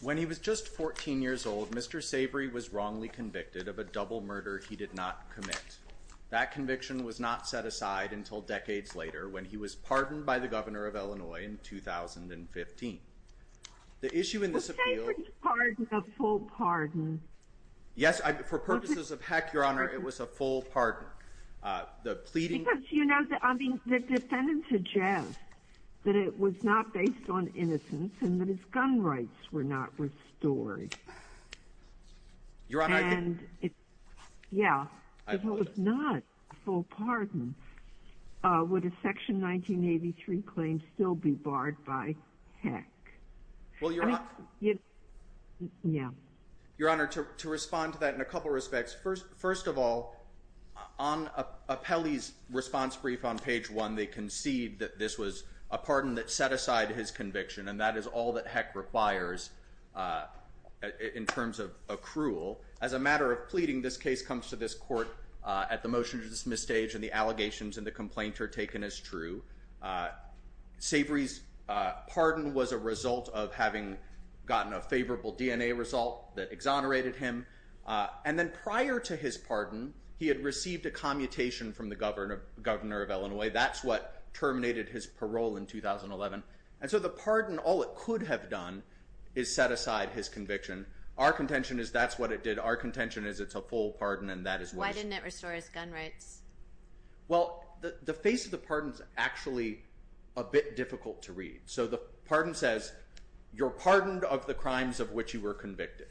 When he was just 14 years old, Mr. Savory was wrongly convicted of a double murder he did not commit. In fact, that conviction was not set aside until decades later, when he was pardoned by the Governor of Illinois in 2015. The issue in this appeal- The Savory's pardon a full pardon. Yes, for purposes of heck, Your Honor, it was a full pardon. The pleading- Because, you know, I mean, the defendant suggests that it was not based on innocence and that his gun rights were not restored. Your Honor, I- And it- Yeah. I believe it. If it was not a full pardon, would a Section 1983 claim still be barred by heck? I mean- Well, Your Honor- Yeah. Your Honor, to respond to that in a couple respects, first of all, on Apelli's response brief on page 1, they concede that this was a pardon that set aside his conviction, and that is all that heck requires in terms of accrual. As a matter of pleading, this case comes to this court at the motion-to-dismiss stage, and the allegations and the complaint are taken as true. Savory's pardon was a result of having gotten a favorable DNA result that exonerated him. And then prior to his pardon, he had received a commutation from the Governor of Illinois. That's what terminated his parole in 2011. And so the pardon, all it could have done is set aside his conviction. Our contention is that's what it did. Our contention is it's a full pardon, and that is what it's- Why didn't it restore his gun rights? Well, the face of the pardon's actually a bit difficult to read. So the pardon says, you're pardoned of the crimes of which you were convicted.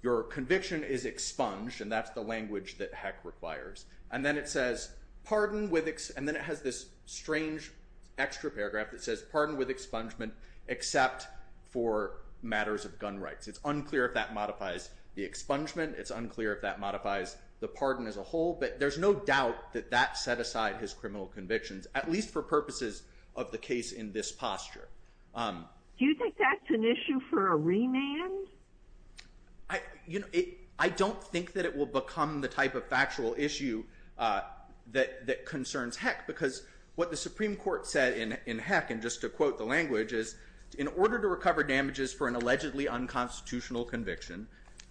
Your conviction is expunged, and that's the language that heck requires. And then it says, pardon with- And then it has this strange extra paragraph that says, pardon with expungement, except for matters of gun rights. It's unclear if that modifies the expungement. It's unclear if that modifies the pardon as a whole. But there's no doubt that that set aside his criminal convictions, at least for purposes of the case in this posture. Do you think that's an issue for a remand? I don't think that it will become the type of factual issue that concerns heck, because what the Supreme Court said in heck, and just to quote the language, in order to recover damages for an allegedly unconstitutional conviction,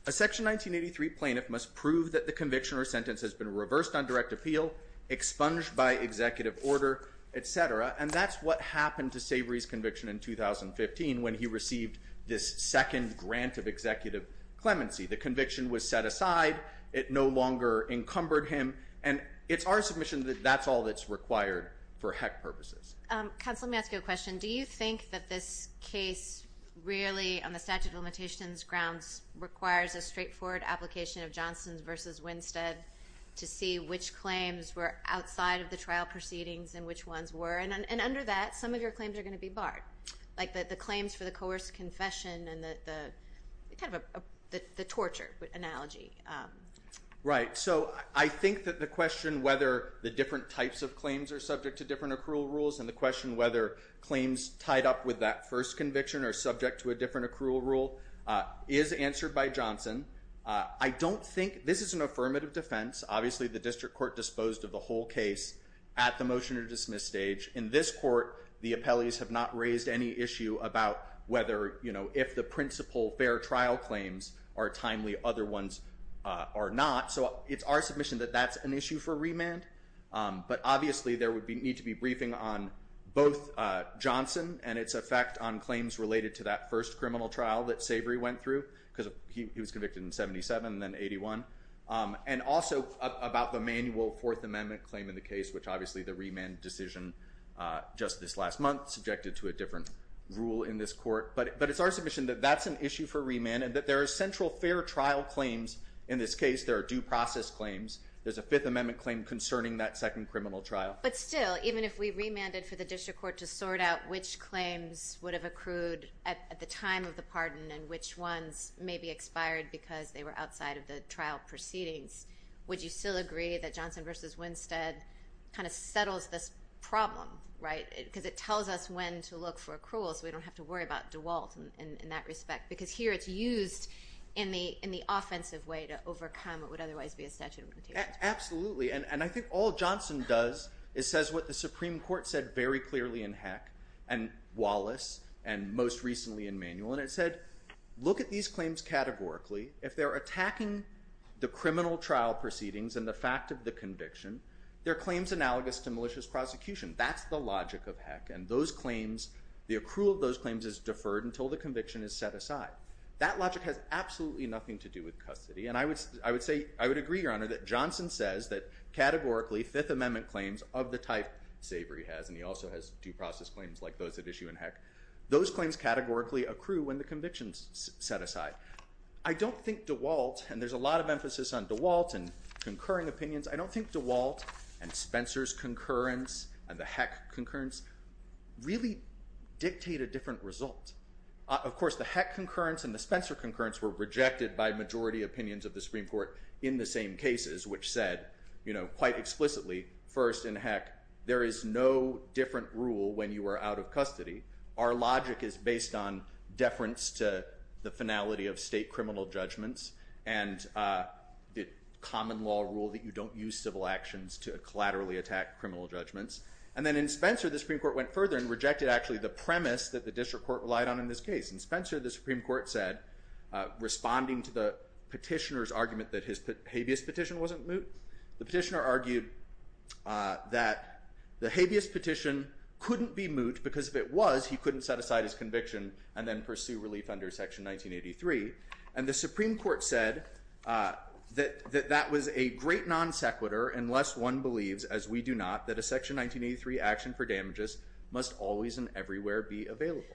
a Section 1983 plaintiff must prove that the conviction or sentence has been reversed on direct appeal, expunged by executive order, et cetera. And that's what happened to Savory's conviction in 2015, when he received this second grant of executive clemency. The conviction was set aside. It no longer encumbered him. And it's our submission that that's all that's required for heck purposes. Counsel, let me ask you a question. Do you think that this case really, on the statute of limitations grounds, requires a straightforward application of Johnson's versus Winstead, to see which claims were outside of the trial proceedings and which ones were? And under that, some of your claims are going to be barred. Like the claims for the coerced confession and the torture analogy. Right. So I think that the question whether the different types of claims are subject to different accrual rules and the question whether claims tied up with that first conviction or subject to a different accrual rule is answered by Johnson. I don't think, this is an affirmative defense. Obviously, the district court disposed of the whole case at the motion to dismiss stage. In this court, the appellees have not raised any issue about whether, you know, if the principal fair trial claims are timely, other ones are not. So it's our submission that that's an issue for remand. But obviously, there would need to be briefing on both Johnson and its effect on claims related to that first criminal trial that Savory went through because he was convicted in 77 and then 81. And also, about the manual Fourth Amendment claim in the case, which obviously the remand decision just this last month subjected to a different rule in this court. But it's our submission that that's an issue for remand and that there are central fair trial claims in this case. There are due process claims. There's a Fifth Amendment claim concerning that second criminal trial. But still, even if we remanded for the district court to sort out which claims would have accrued at the time of the pardon and which ones may be expired because they were outside of the trial proceedings, would you still agree that Johnson versus Winstead kind of settles this problem, right, because it tells us when to look for accruals. We don't have to worry about DeWalt in that respect because here it's used in the offensive way to overcome what would otherwise be a statute of limitations. Absolutely. And I think all Johnson does is says what the Supreme Court said very clearly in Heck and Wallace and most recently in Manual, and it said, look at these claims categorically. If they're attacking the criminal trial proceedings and the fact of the conviction, they're claims analogous to malicious prosecution. That's the logic of Heck. And those claims, the accrual of those claims is deferred until the conviction is set aside. That logic has absolutely nothing to do with custody. And I would say, I would agree, Your Honor, that Johnson says that categorically Fifth Amendment claims of the type Sabre he has, and he also has due process claims like those at issue in Heck, those claims categorically accrue when the conviction is set aside. I don't think DeWalt, and there's a lot of emphasis on DeWalt and concurring opinions, I don't think DeWalt and Spencer's concurrence and the Heck concurrence really dictate a different result. Of course, the Heck concurrence and the Spencer concurrence were rejected by majority opinions of the Supreme Court in the same cases, which said, you know, quite explicitly, first in Heck, there is no different rule when you are out of custody. Our logic is based on deference to the finality of state criminal judgments and the common law rule that you don't use civil actions to collaterally attack criminal judgments. And then in Spencer, the Supreme Court went further and rejected actually the premise that the district court relied on in this case. In Spencer, the Supreme Court said, responding to the petitioner's argument that his habeas petition wasn't moot, the petitioner argued that the habeas petition couldn't be moot because if it was, he couldn't set aside his conviction and then pursue relief under Section 1983. And the Supreme Court said that that was a great non sequitur unless one believes, as we do not, that a Section 1983 action for damages must always and everywhere be available.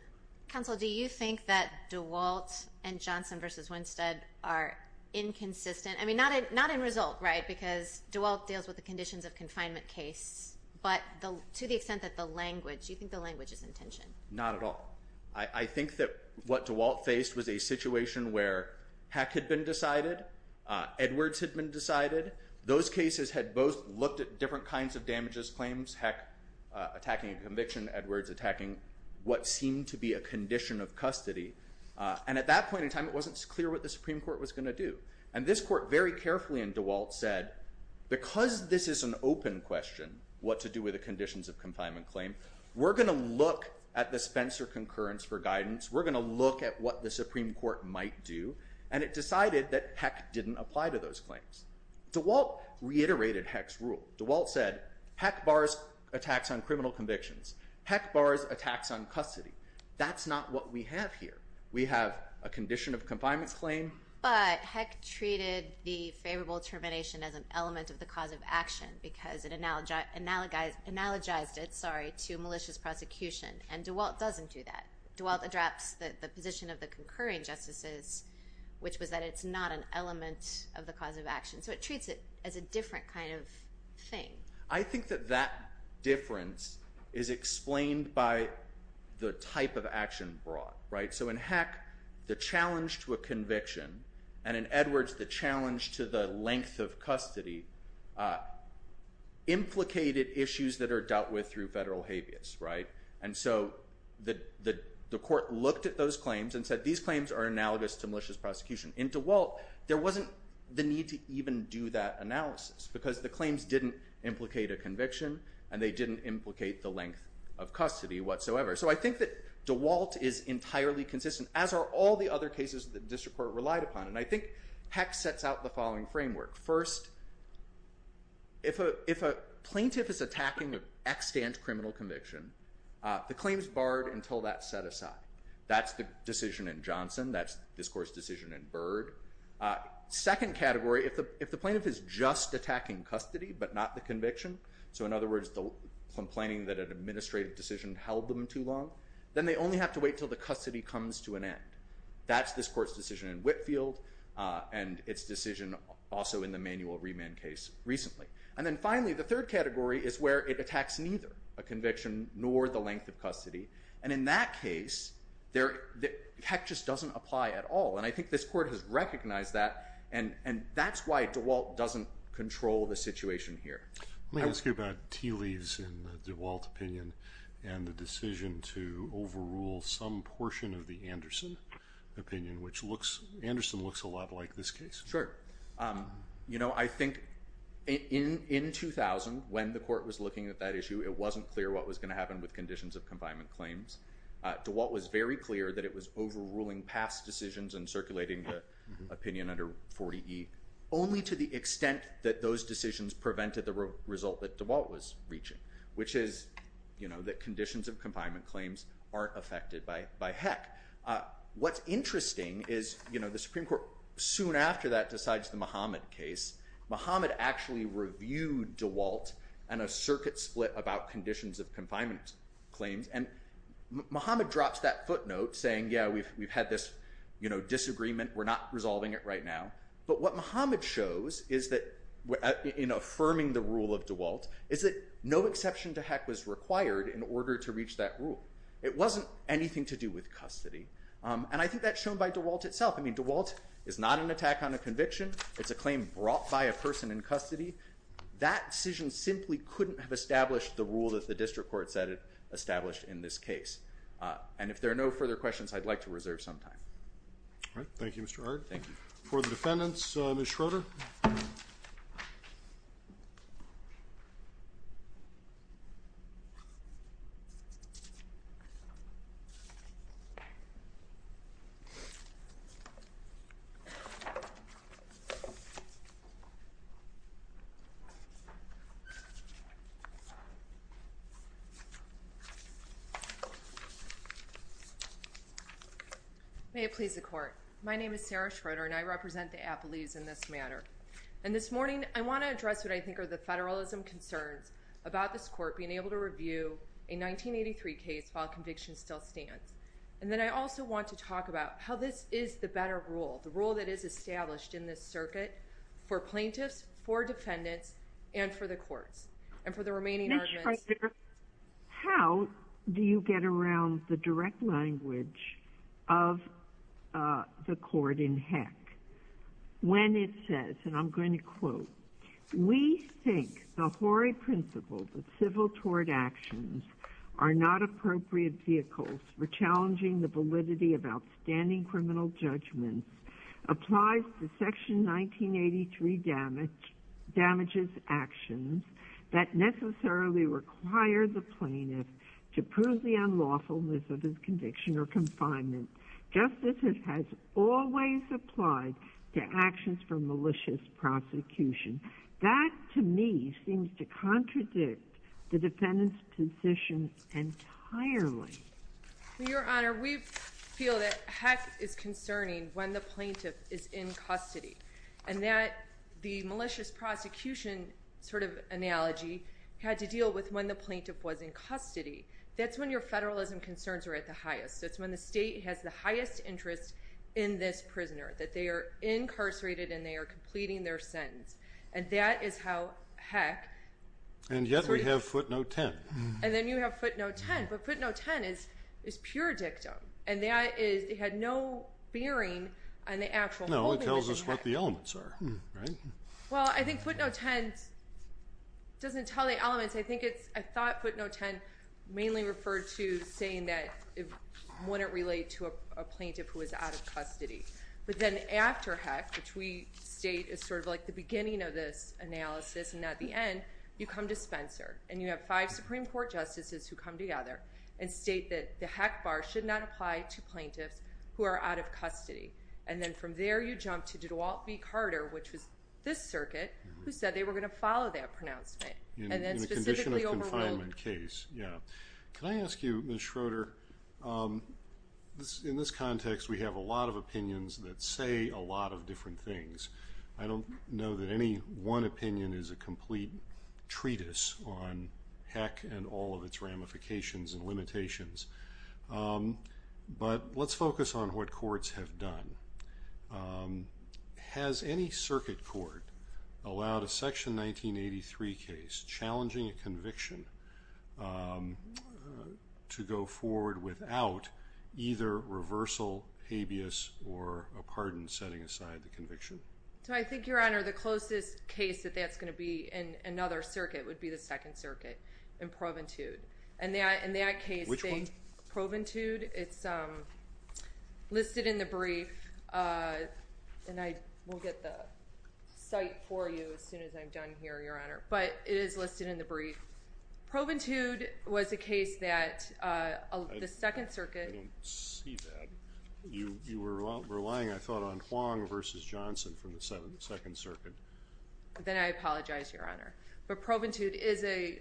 Counsel, do you think that DeWalt and Johnson versus Winstead are inconsistent? I mean, not in result, right, because DeWalt deals with the conditions of confinement case, but to the extent that the language, do you think the language is in tension? Not at all. I think that what DeWalt faced was a situation where Heck had been decided, Edwards had been decided. Those cases had both looked at different kinds of damages claims, Heck attacking a conviction, Edwards attacking what seemed to be a condition of custody. And at that point in time, it wasn't clear what the Supreme Court was going to do. And this court very carefully in DeWalt said, because this is an open question, what to do with the conditions of confinement claim, we're going to look at the Spencer concurrence for guidance. We're going to look at what the Supreme Court might do. And it decided that Heck didn't apply to those claims. DeWalt reiterated Heck's rule. DeWalt said, Heck bars attacks on criminal convictions. Heck bars attacks on custody. That's not what we have here. We have a condition of confinement claim. But Heck treated the favorable termination as an element of the cause of action because it analogized it, sorry, to malicious prosecution. And DeWalt doesn't do that. DeWalt drops the position of the concurring justices, which was that it's not an element of the cause of action. So it treats it as a different kind of thing. I think that that difference is explained by the type of action brought, right? So in Heck, the challenge to a conviction, and in Edwards, the challenge to the length of custody implicated issues that are dealt with through federal habeas, right? And so the court looked at those claims and said, these claims are analogous to malicious prosecution. In DeWalt, there wasn't the need to even do that analysis because the claims didn't implicate a conviction and they didn't implicate the length of custody whatsoever. So I think that DeWalt is entirely consistent, as are all the other cases that district court relied upon. And I think Heck sets out the following framework. First, if a plaintiff is attacking an extant criminal conviction, the claim is barred until that's set aside. That's the decision in Johnson. That's this court's decision in Byrd. Second category, if the plaintiff is just attacking custody but not the conviction, so in other words, complaining that an administrative decision held them too long, then they only have to wait until the custody comes to an end. That's this court's decision in Whitfield and its decision also in the manual remand case recently. And then finally, the third category is where it attacks neither a conviction nor the length of custody, and in that case, Heck just doesn't apply at all. And I think this court has recognized that, and that's why DeWalt doesn't control the situation here. Let me ask you about tea leaves in the DeWalt opinion and the decision to overrule some portion of the Anderson opinion, which Anderson looks a lot like this case. Sure. You know, I think in 2000, when the court was looking at that issue, it wasn't clear what was going to happen with conditions of confinement claims. DeWalt was very clear that it was overruling past decisions and circulating the opinion under 40E, only to the extent that those decisions prevented the result that DeWalt was reaching, which is, you know, that conditions of confinement claims aren't affected by Heck. What's interesting is, you know, the Supreme Court soon after that decides the Muhammad case. Muhammad actually reviewed DeWalt and a circuit split about conditions of confinement claims, and Muhammad drops that footnote saying, yeah, we've had this, you know, disagreement. We're not resolving it right now. But what Muhammad shows is that, in affirming the rule of DeWalt, is that no exception to Heck was required in order to reach that rule. It wasn't anything to do with custody. And I think that's shown by DeWalt itself. I mean, DeWalt is not an attack on a conviction. It's a claim brought by a person in custody. That decision simply couldn't have established the rule that the district court said it established in this case. And if there are no further questions, I'd like to reserve some time. All right. Thank you, Mr. Hart. Thank you. For the defendants, Ms. Schroeder. May it please the court. My name is Sarah Schroeder, and I represent the Appalachians in this matter. And this morning, I want to address what I think are the federalism concerns about this court being able to review a 1983 case while conviction still stands. And then I also want to talk about how this is the better rule, the rule that is established in this circuit for plaintiffs, for defendants, and for the courts. And for the remaining arguments. How do you get around the direct language of the court in Heck? When it says, and I'm going to quote, we think the hoary principles of civil tort actions are not appropriate vehicles for challenging the validity of outstanding criminal judgments, applies to section 1983 damages actions that necessarily require the plaintiff to prove the unlawfulness of his conviction or confinement. Justice has always applied to actions for malicious prosecution. That, to me, seems to contradict the defendant's position entirely. Your Honor, we feel that Heck is concerning when the plaintiff is in custody. And that the malicious prosecution sort of analogy had to deal with when the plaintiff was in custody. That's when your federalism concerns are at the highest. That's when the state has the highest interest in this prisoner. That they are incarcerated and they are completing their sentence. And that is how Heck. And yet we have footnote 10. And then you have footnote 10. But footnote 10 is pure dictum. And that is, it had no bearing on the actual holding. No, it tells us what the elements are, right? Well, I think footnote 10 doesn't tell the elements. I think it's, I thought footnote 10 mainly referred to saying that it wouldn't relate to a plaintiff who is out of custody. But then after Heck, which we state is sort of like the beginning of this analysis and not the end, you come to Spencer. And you have five Supreme Court justices who come together and state that the Heck bar should not apply to plaintiffs who are out of custody. And then from there you jump to DeWalt v. Carter, which was this circuit, who said they were going to follow that pronouncement. And then specifically overruled. In a condition of confinement case, yeah. Can I ask you, Ms. Schroeder, in this context we have a lot of opinions that say a lot of different things. I don't know that any one opinion is a complete treatise on Heck and all of its ramifications and limitations. But let's focus on what courts have done. Has any circuit court allowed a Section 1983 case challenging a conviction to go forward without either reversal, habeas, or a pardon setting aside the conviction? So I think, Your Honor, the closest case that that's going to be in another circuit would be the Second Circuit in Proventude. And that case, Proventude, it's listed in the brief. And I will get the site for you as soon as I'm done here, Your Honor. But it is listed in the brief. Proventude was a case that the Second Circuit. I don't see that. You were relying, I thought, on Huang versus Johnson from the Second Circuit. Then I apologize, Your Honor. But Proventude is a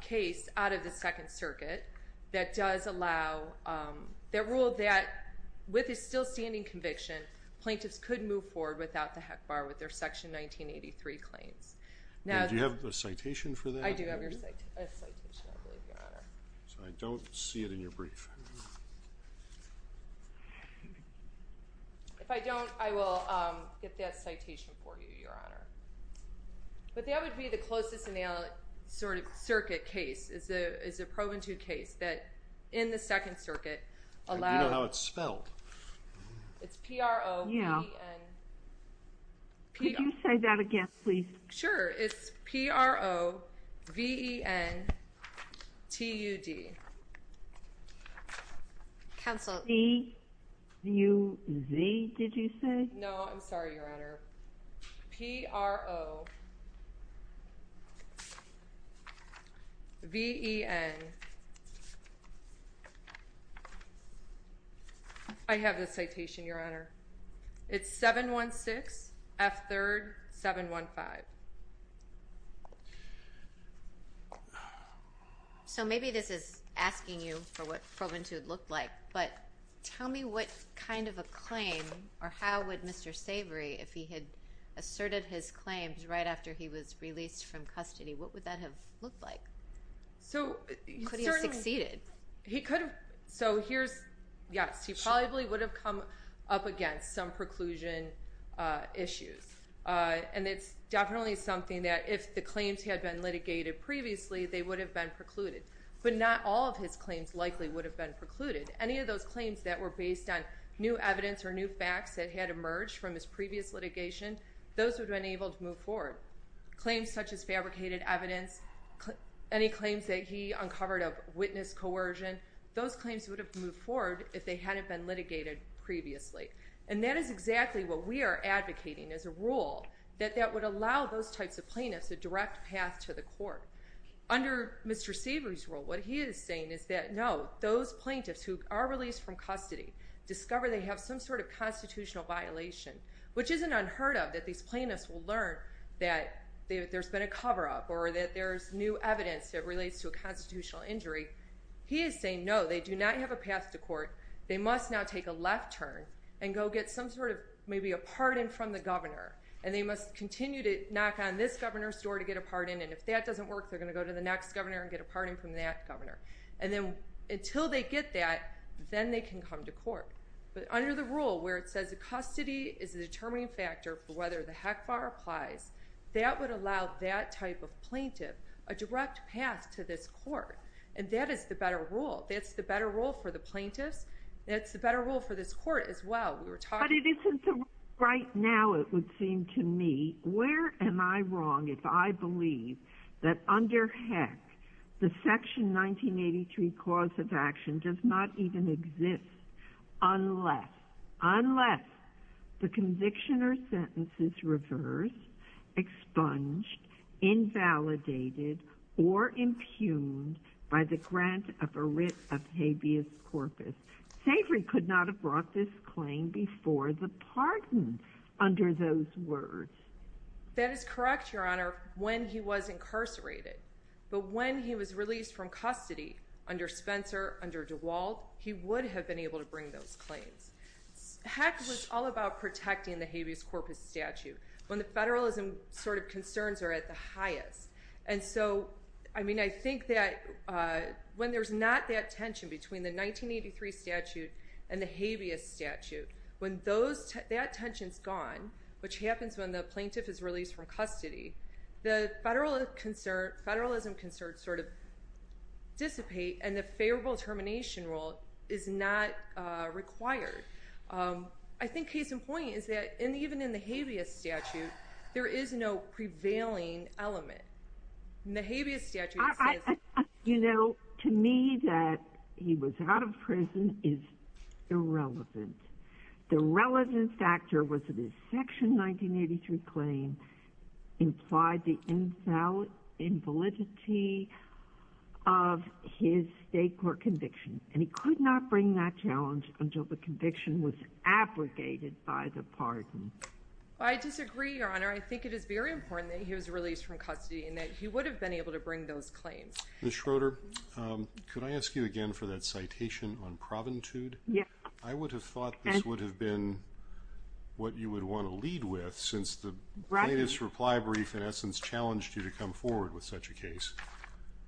case out of the Second Circuit that does allow, that ruled that with a still standing conviction, plaintiffs could move forward without the Heck bar with their Section 1983 claims. Now, do you have a citation for that? I do have a citation, I believe, Your Honor. So I don't see it in your brief. If I don't, I will get that citation for you, Your Honor. But that would be the closest in the sort of circuit case, is a Proventude case that in the Second Circuit allowed. I do know how it's spelled. It's P-R-O-V-N. Could you say that again, please? Sure. It's P-R-O-V-E-N-T-U-D. Counsel. T-U-Z, did you say? No, I'm sorry, Your Honor. P-R-O-V-E-N. I have the citation, Your Honor. It's 716F3-715. So maybe this is asking you for what Proventude looked like, but tell me what kind of a claim, or how would Mr. Savory, if he had asserted his claims right after he was released from custody, what would that have looked like? So he could have succeeded. So here's, yes. He probably would have come up against some preclusion issues. And it's definitely something that if the claims had been litigated previously, they would have been precluded. But not all of his claims likely would have been precluded. Any of those claims that were based on new evidence or new facts that had emerged from his previous litigation, those would have been able to move forward. Claims such as fabricated evidence, any claims that he uncovered of witness coercion, those claims would have moved forward if they hadn't been litigated previously. And that is exactly what we are advocating as a rule, that that would allow those types of plaintiffs a direct path to the court. Under Mr. Savory's rule, what he is saying is that, no, those plaintiffs who are released from custody, discover they have some sort of constitutional violation. Which isn't unheard of, that these plaintiffs will learn that there's been a cover up or that there's new evidence that relates to a constitutional injury. He is saying, no, they do not have a path to court. They must now take a left turn and go get some sort of, maybe a pardon from the governor. And they must continue to knock on this governor's door to get a pardon. And if that doesn't work, they're gonna go to the next governor and get a pardon from that governor. And then until they get that, then they can come to court. But under the rule where it says the custody is the determining factor for whether the HECFAR applies, that would allow that type of plaintiff a direct path to this court. And that is the better rule. That's the better rule for the plaintiffs. That's the better rule for this court as well. We were talking- But it isn't the right now, it would seem to me. Where am I wrong if I believe that under HEC, the section 1983 cause of action does not even exist unless, unless the conviction or sentence is reversed, expunged, invalidated, or impugned by the grant of a writ of habeas corpus. Savory could not have brought this claim before the pardon under those words. That is correct, Your Honor, when he was incarcerated. But when he was released from custody under Spencer, under DeWalt, he would have been able to bring those claims. HEC was all about protecting the habeas corpus statute when the federalism sort of concerns are at the highest. And so, I mean, I think that when there's not that tension between the 1983 statute and the habeas statute, when that tension's gone, which happens when the plaintiff is released from custody, the federalism concerns sort of dissipate and the favorable termination rule is not required. I think case in point is that, and even in the habeas statute, there is no prevailing element. In the habeas statute, it says- You know, to me, that he was out of prison is irrelevant. The relevant factor was that his section 1983 claim implied the invalidity of his state court conviction. And he could not bring that challenge until the conviction was abrogated by the pardon. I disagree, Your Honor. I think it is very important that he was released from custody and that he would have been able to bring those claims. Ms. Schroeder, could I ask you again for that citation on proventude? Yes. I would have thought this would have been what you would want to lead with since the plaintiff's reply brief, in essence, challenged you to come forward with such a case.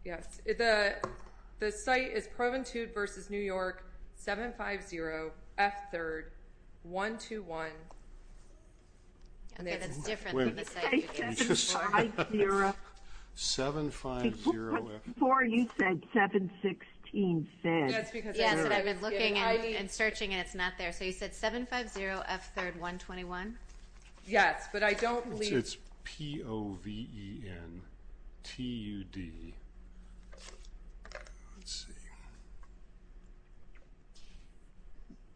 Yes. The site is Proventude versus New York, 750 F 3rd, 121. Okay, that's different than the site you gave me. Did you say 750 F 3rd? 750 F 3rd. Before you said 716 F 3rd. Yes, but I've been looking and searching and it's not there. So you said 750 F 3rd, 121? Yes, but I don't believe... It's P-O-V-E-N-T-U-D. Let's see.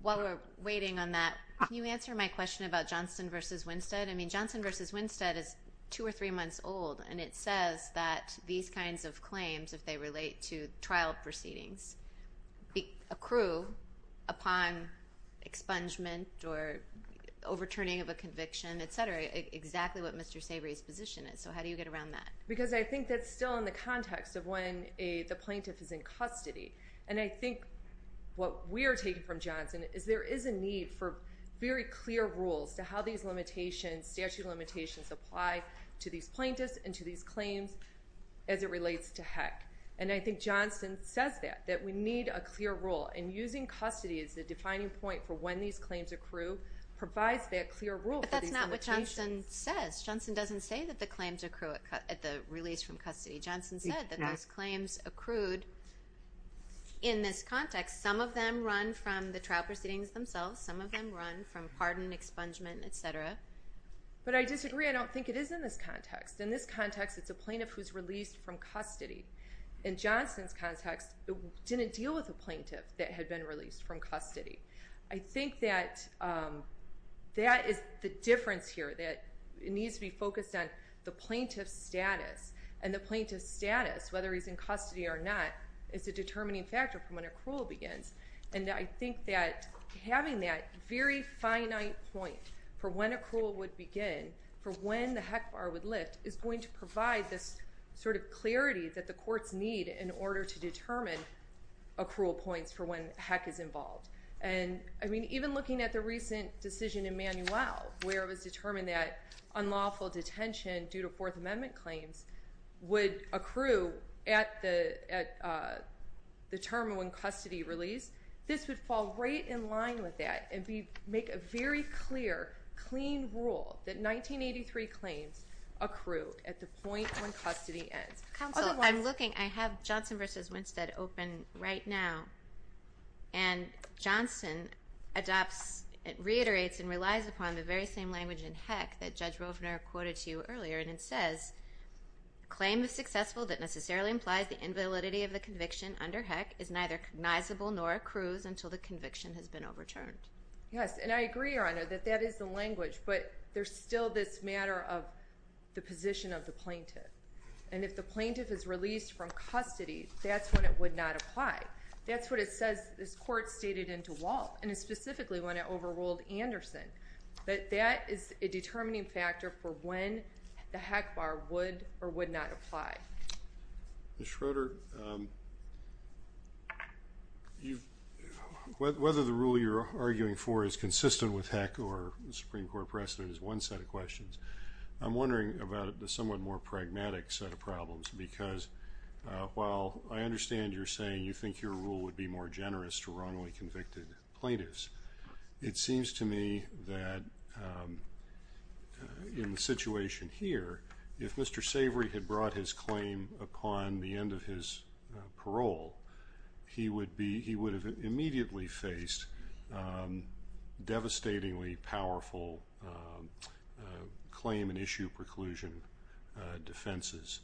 While we're waiting on that, can you answer my question about Johnston versus Winstead? I mean, Johnston versus Winstead is two or three months old and it says that these kinds of claims, if they relate to trial proceedings, accrue upon expungement or overturning of a conviction, etc., exactly what Mr. Sabry's position is. So how do you get around that? Because I think that's still in the context of when the plaintiff is in custody. And I think what we're taking from Johnston is there is a need for very clear rules to how these limitations, statute of limitations, apply to these plaintiffs and to these claims as it relates to HEC. And I think Johnston says that, that we need a clear rule. And using custody as the defining point for when these claims accrue provides that clear rule for these limitations. But that's not what Johnston says. Johnston doesn't say that the claims accrue at the release from custody. Johnston said that those claims accrued in this context, some of them run from the trial proceedings themselves. Some of them run from pardon, expungement, etc. But I disagree. I don't think it is in this context. In this context, it's a plaintiff who's released from custody. In Johnston's context, it didn't deal with a plaintiff that had been released from custody. I think that that is the difference here, that it needs to be focused on the plaintiff's status. And the plaintiff's status, whether he's in custody or not, is a determining factor for when accrual begins. And I think that having that very finite point for when accrual would begin, for when the HEC bar would lift, is going to provide this sort of clarity that the courts need in order to determine accrual points for when HEC is involved. And, I mean, even looking at the recent decision in Manuel, where it was determined that unlawful detention due to Fourth Amendment claims would accrue at the term when custody released. This would fall right in line with that and make a very clear, clean rule that 1983 claims accrue at the point when custody ends. Otherwise- Counsel, I'm looking, I have Johnston versus Winstead open right now. And Johnston adopts, reiterates, and relies upon the very same language in HEC that Judge Rovner quoted to you earlier. And it says, claim is successful that necessarily implies the invalidity of the conviction under HEC is neither cognizable nor accrues until the conviction has been overturned. Yes, and I agree, Your Honor, that that is the language. But there's still this matter of the position of the plaintiff. And if the plaintiff is released from custody, that's when it would not apply. That's what it says, this court stated in DeWalt, and specifically when it overruled Anderson. But that is a determining factor for when the HEC bar would or would not apply. Ms. Schroeder, whether the rule you're arguing for is consistent with HEC or the Supreme Court precedent is one set of questions. I'm wondering about the somewhat more pragmatic set of problems. Because while I understand you're saying you think your rule would be more generous to wrongly convicted plaintiffs. It seems to me that in the situation here, if Mr. Savory had brought his claim upon the end of his parole, he would have immediately faced devastatingly powerful claim and issue preclusion defenses.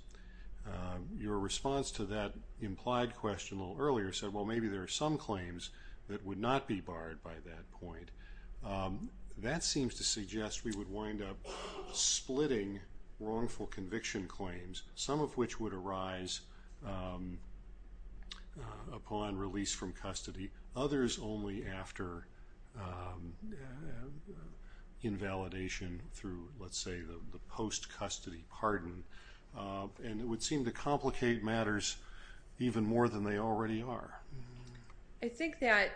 Your response to that implied question a little earlier said, well, maybe there are some claims that would not be barred by that point. That seems to suggest we would wind up splitting wrongful conviction claims. Some of which would arise upon release from custody. Others only after invalidation through, let's say, the post-custody pardon. And it would seem to complicate matters even more than they already are. I think that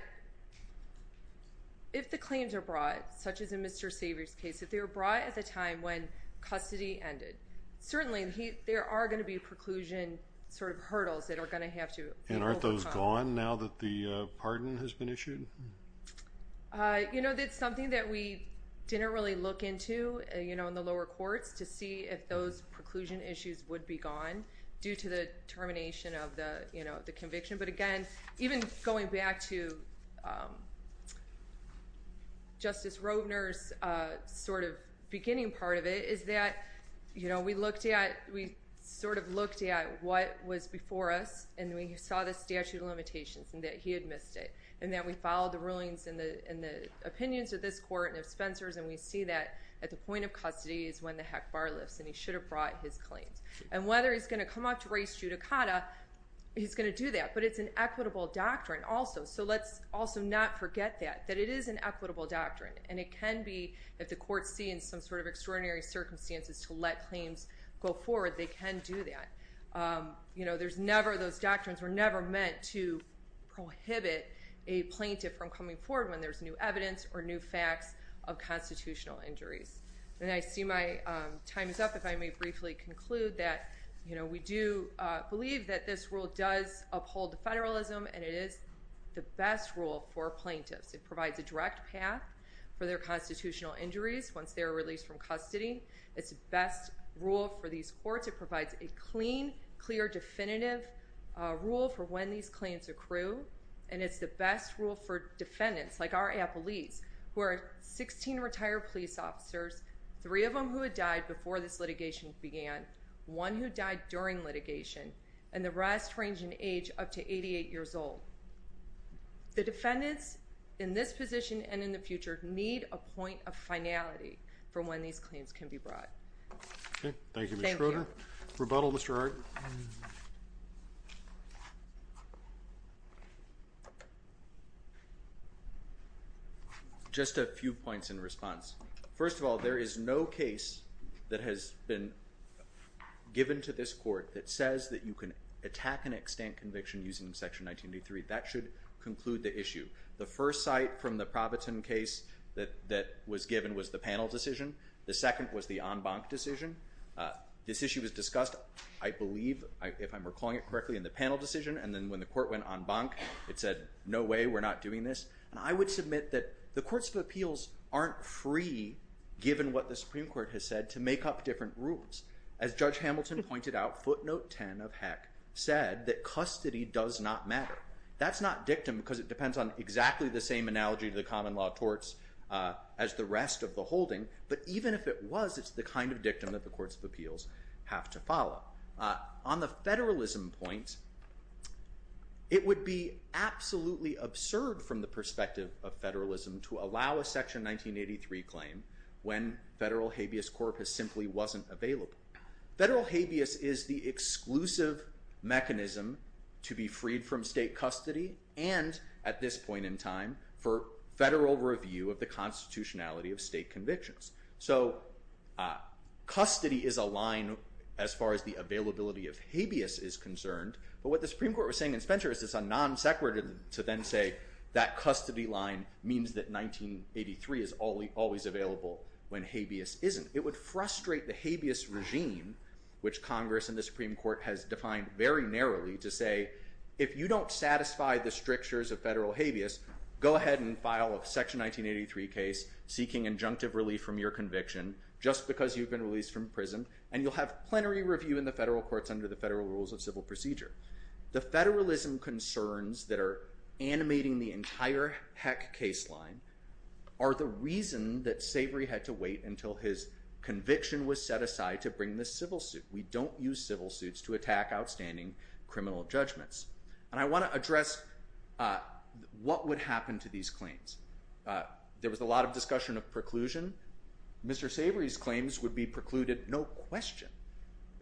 if the claims are brought, such as in Mr. Savory's case, if they were brought at the time when custody ended, certainly there are going to be preclusion sort of hurdles that are going to have to overcome. And aren't those gone now that the pardon has been issued? You know, that's something that we didn't really look into in the lower courts to see if those preclusion issues would be gone due to the termination of the conviction. But again, even going back to Justice Roedner's sort of beginning part of it, is that we sort of looked at what was before us. And we saw the statute of limitations and that he had missed it. And that we followed the rulings and the opinions of this court and of Spencer's. And we see that at the point of custody is when the heck bar lifts. And he should have brought his claims. And whether he's going to come out to raise judicata, he's going to do that. But it's an equitable doctrine also. So let's also not forget that, that it is an equitable doctrine. And it can be, if the courts see in some sort of extraordinary circumstances to let claims go forward, they can do that. You know, there's never, those doctrines were never meant to prohibit a plaintiff from coming forward when there's new evidence or new facts of constitutional injuries. And I see my time is up, if I may briefly conclude that, you know, we do believe that this rule does uphold the federalism. And it is the best rule for plaintiffs. It provides a direct path for their constitutional injuries once they're released from custody. It's the best rule for these courts. It provides a clean, clear, definitive rule for when these claims accrue. And it's the best rule for defendants, like our appellees, who are 16 retired police officers, three of them who had died before this litigation began, one who died during litigation, and the rest range in age up to 88 years old. The defendants in this position and in the future need a point of finality for when these claims can be brought. Okay. Thank you, Ms. Schroeder. Rebuttal, Mr. Hart. Just a few points in response. First of all, there is no case that has been given to this court that says that you can attack an extant conviction using Section 1983. That should conclude the issue. The first site from the Proviton case that was given was the panel decision. The second was the en banc decision. This issue was discussed, I believe, if I'm recalling it correctly, in the panel decision. And then when the court went en banc, it said, no way, we're not doing this. And I would submit that the courts of appeals aren't free, given what the Supreme Court has said, to make up different rules. As Judge Hamilton pointed out, footnote 10, of heck, said that custody does not matter. That's not dictum because it depends on exactly the same analogy to the common law of torts as the rest of the holding. But even if it was, it's the kind of dictum that the courts of appeals have to follow. On the federalism point, it would be absolutely absurd from the perspective of federalism to allow a Section 1983 claim when federal habeas corpus simply wasn't available. Federal habeas is the exclusive mechanism to be freed from state custody and, at this point in time, for federal review of the constitutionality of state convictions. So custody is a line as far as the availability of habeas is concerned. But what the Supreme Court was saying in Spencer is it's a non-sequitur to then say that custody line means that 1983 is always available when habeas isn't. It would frustrate the habeas regime, which Congress and the Supreme Court has defined very narrowly, to say, if you don't satisfy the strictures of federal habeas, go ahead and file a Section 1983 case seeking injunctive relief from your conviction just because you've been released from prison. And you'll have plenary review in the federal courts under the Federal Rules of Civil Procedure. The federalism concerns that are animating the entire Heck case line are the reason that Savory had to wait until his conviction was set aside to bring this civil suit. We don't use civil suits to attack outstanding criminal judgments. And I want to address what would happen to these claims. There was a lot of discussion of preclusion. Mr. Savory's claims would be precluded, no question.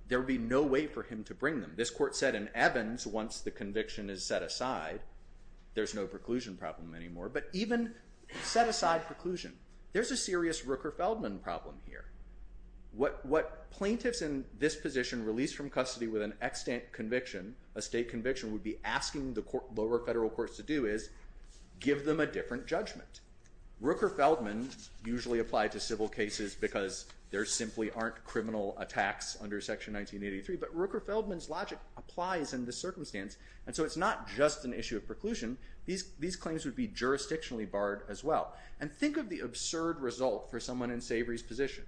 There would be no way for him to bring them. This court said in Evans, once the conviction is set aside, there's no preclusion problem anymore. But even set aside preclusion, there's a serious Rooker-Feldman problem here. What plaintiffs in this position released from custody with an extant conviction, a state conviction, would be asking the lower federal courts to do is give them a different judgment. Rooker-Feldman usually applied to civil cases because there simply aren't criminal attacks under Section 1983. But Rooker-Feldman's logic applies in this circumstance. And so it's not just an issue of preclusion. These claims would be jurisdictionally barred as well. And think of the absurd result for someone in Savory's position.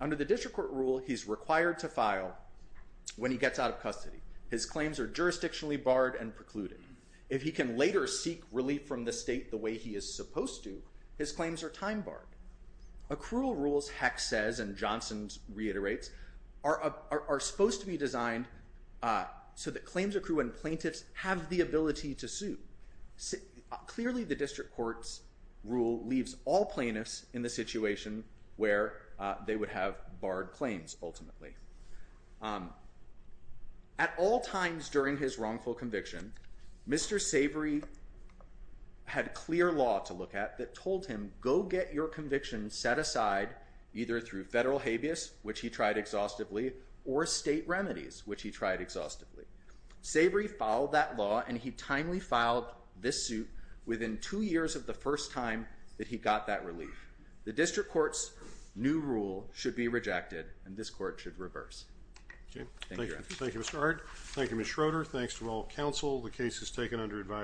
Under the district court rule, he's required to file when he gets out of custody. His claims are jurisdictionally barred and precluded. If he can later seek relief from the state the way he is supposed to, his claims are time barred. Accrual rules, Heck says, and Johnson reiterates, are supposed to be designed so that claims accrue when plaintiffs have the ability to sue. Clearly, the district court's rule leaves all plaintiffs in the situation where they would have barred claims, ultimately. At all times during his wrongful conviction, Mr. Savory had clear law to look at that told him, go get your conviction set aside either through federal habeas, which he tried exhaustively, or state remedies, which he tried exhaustively. Savory followed that law, and he timely filed this suit within two years of the first time that he got that relief. The district court's new rule should be rejected, and this court should reverse. Thank you. Thank you, Mr. Ard. Thank you, Ms. Schroeder. Thanks to all counsel. The case is taken under advisory.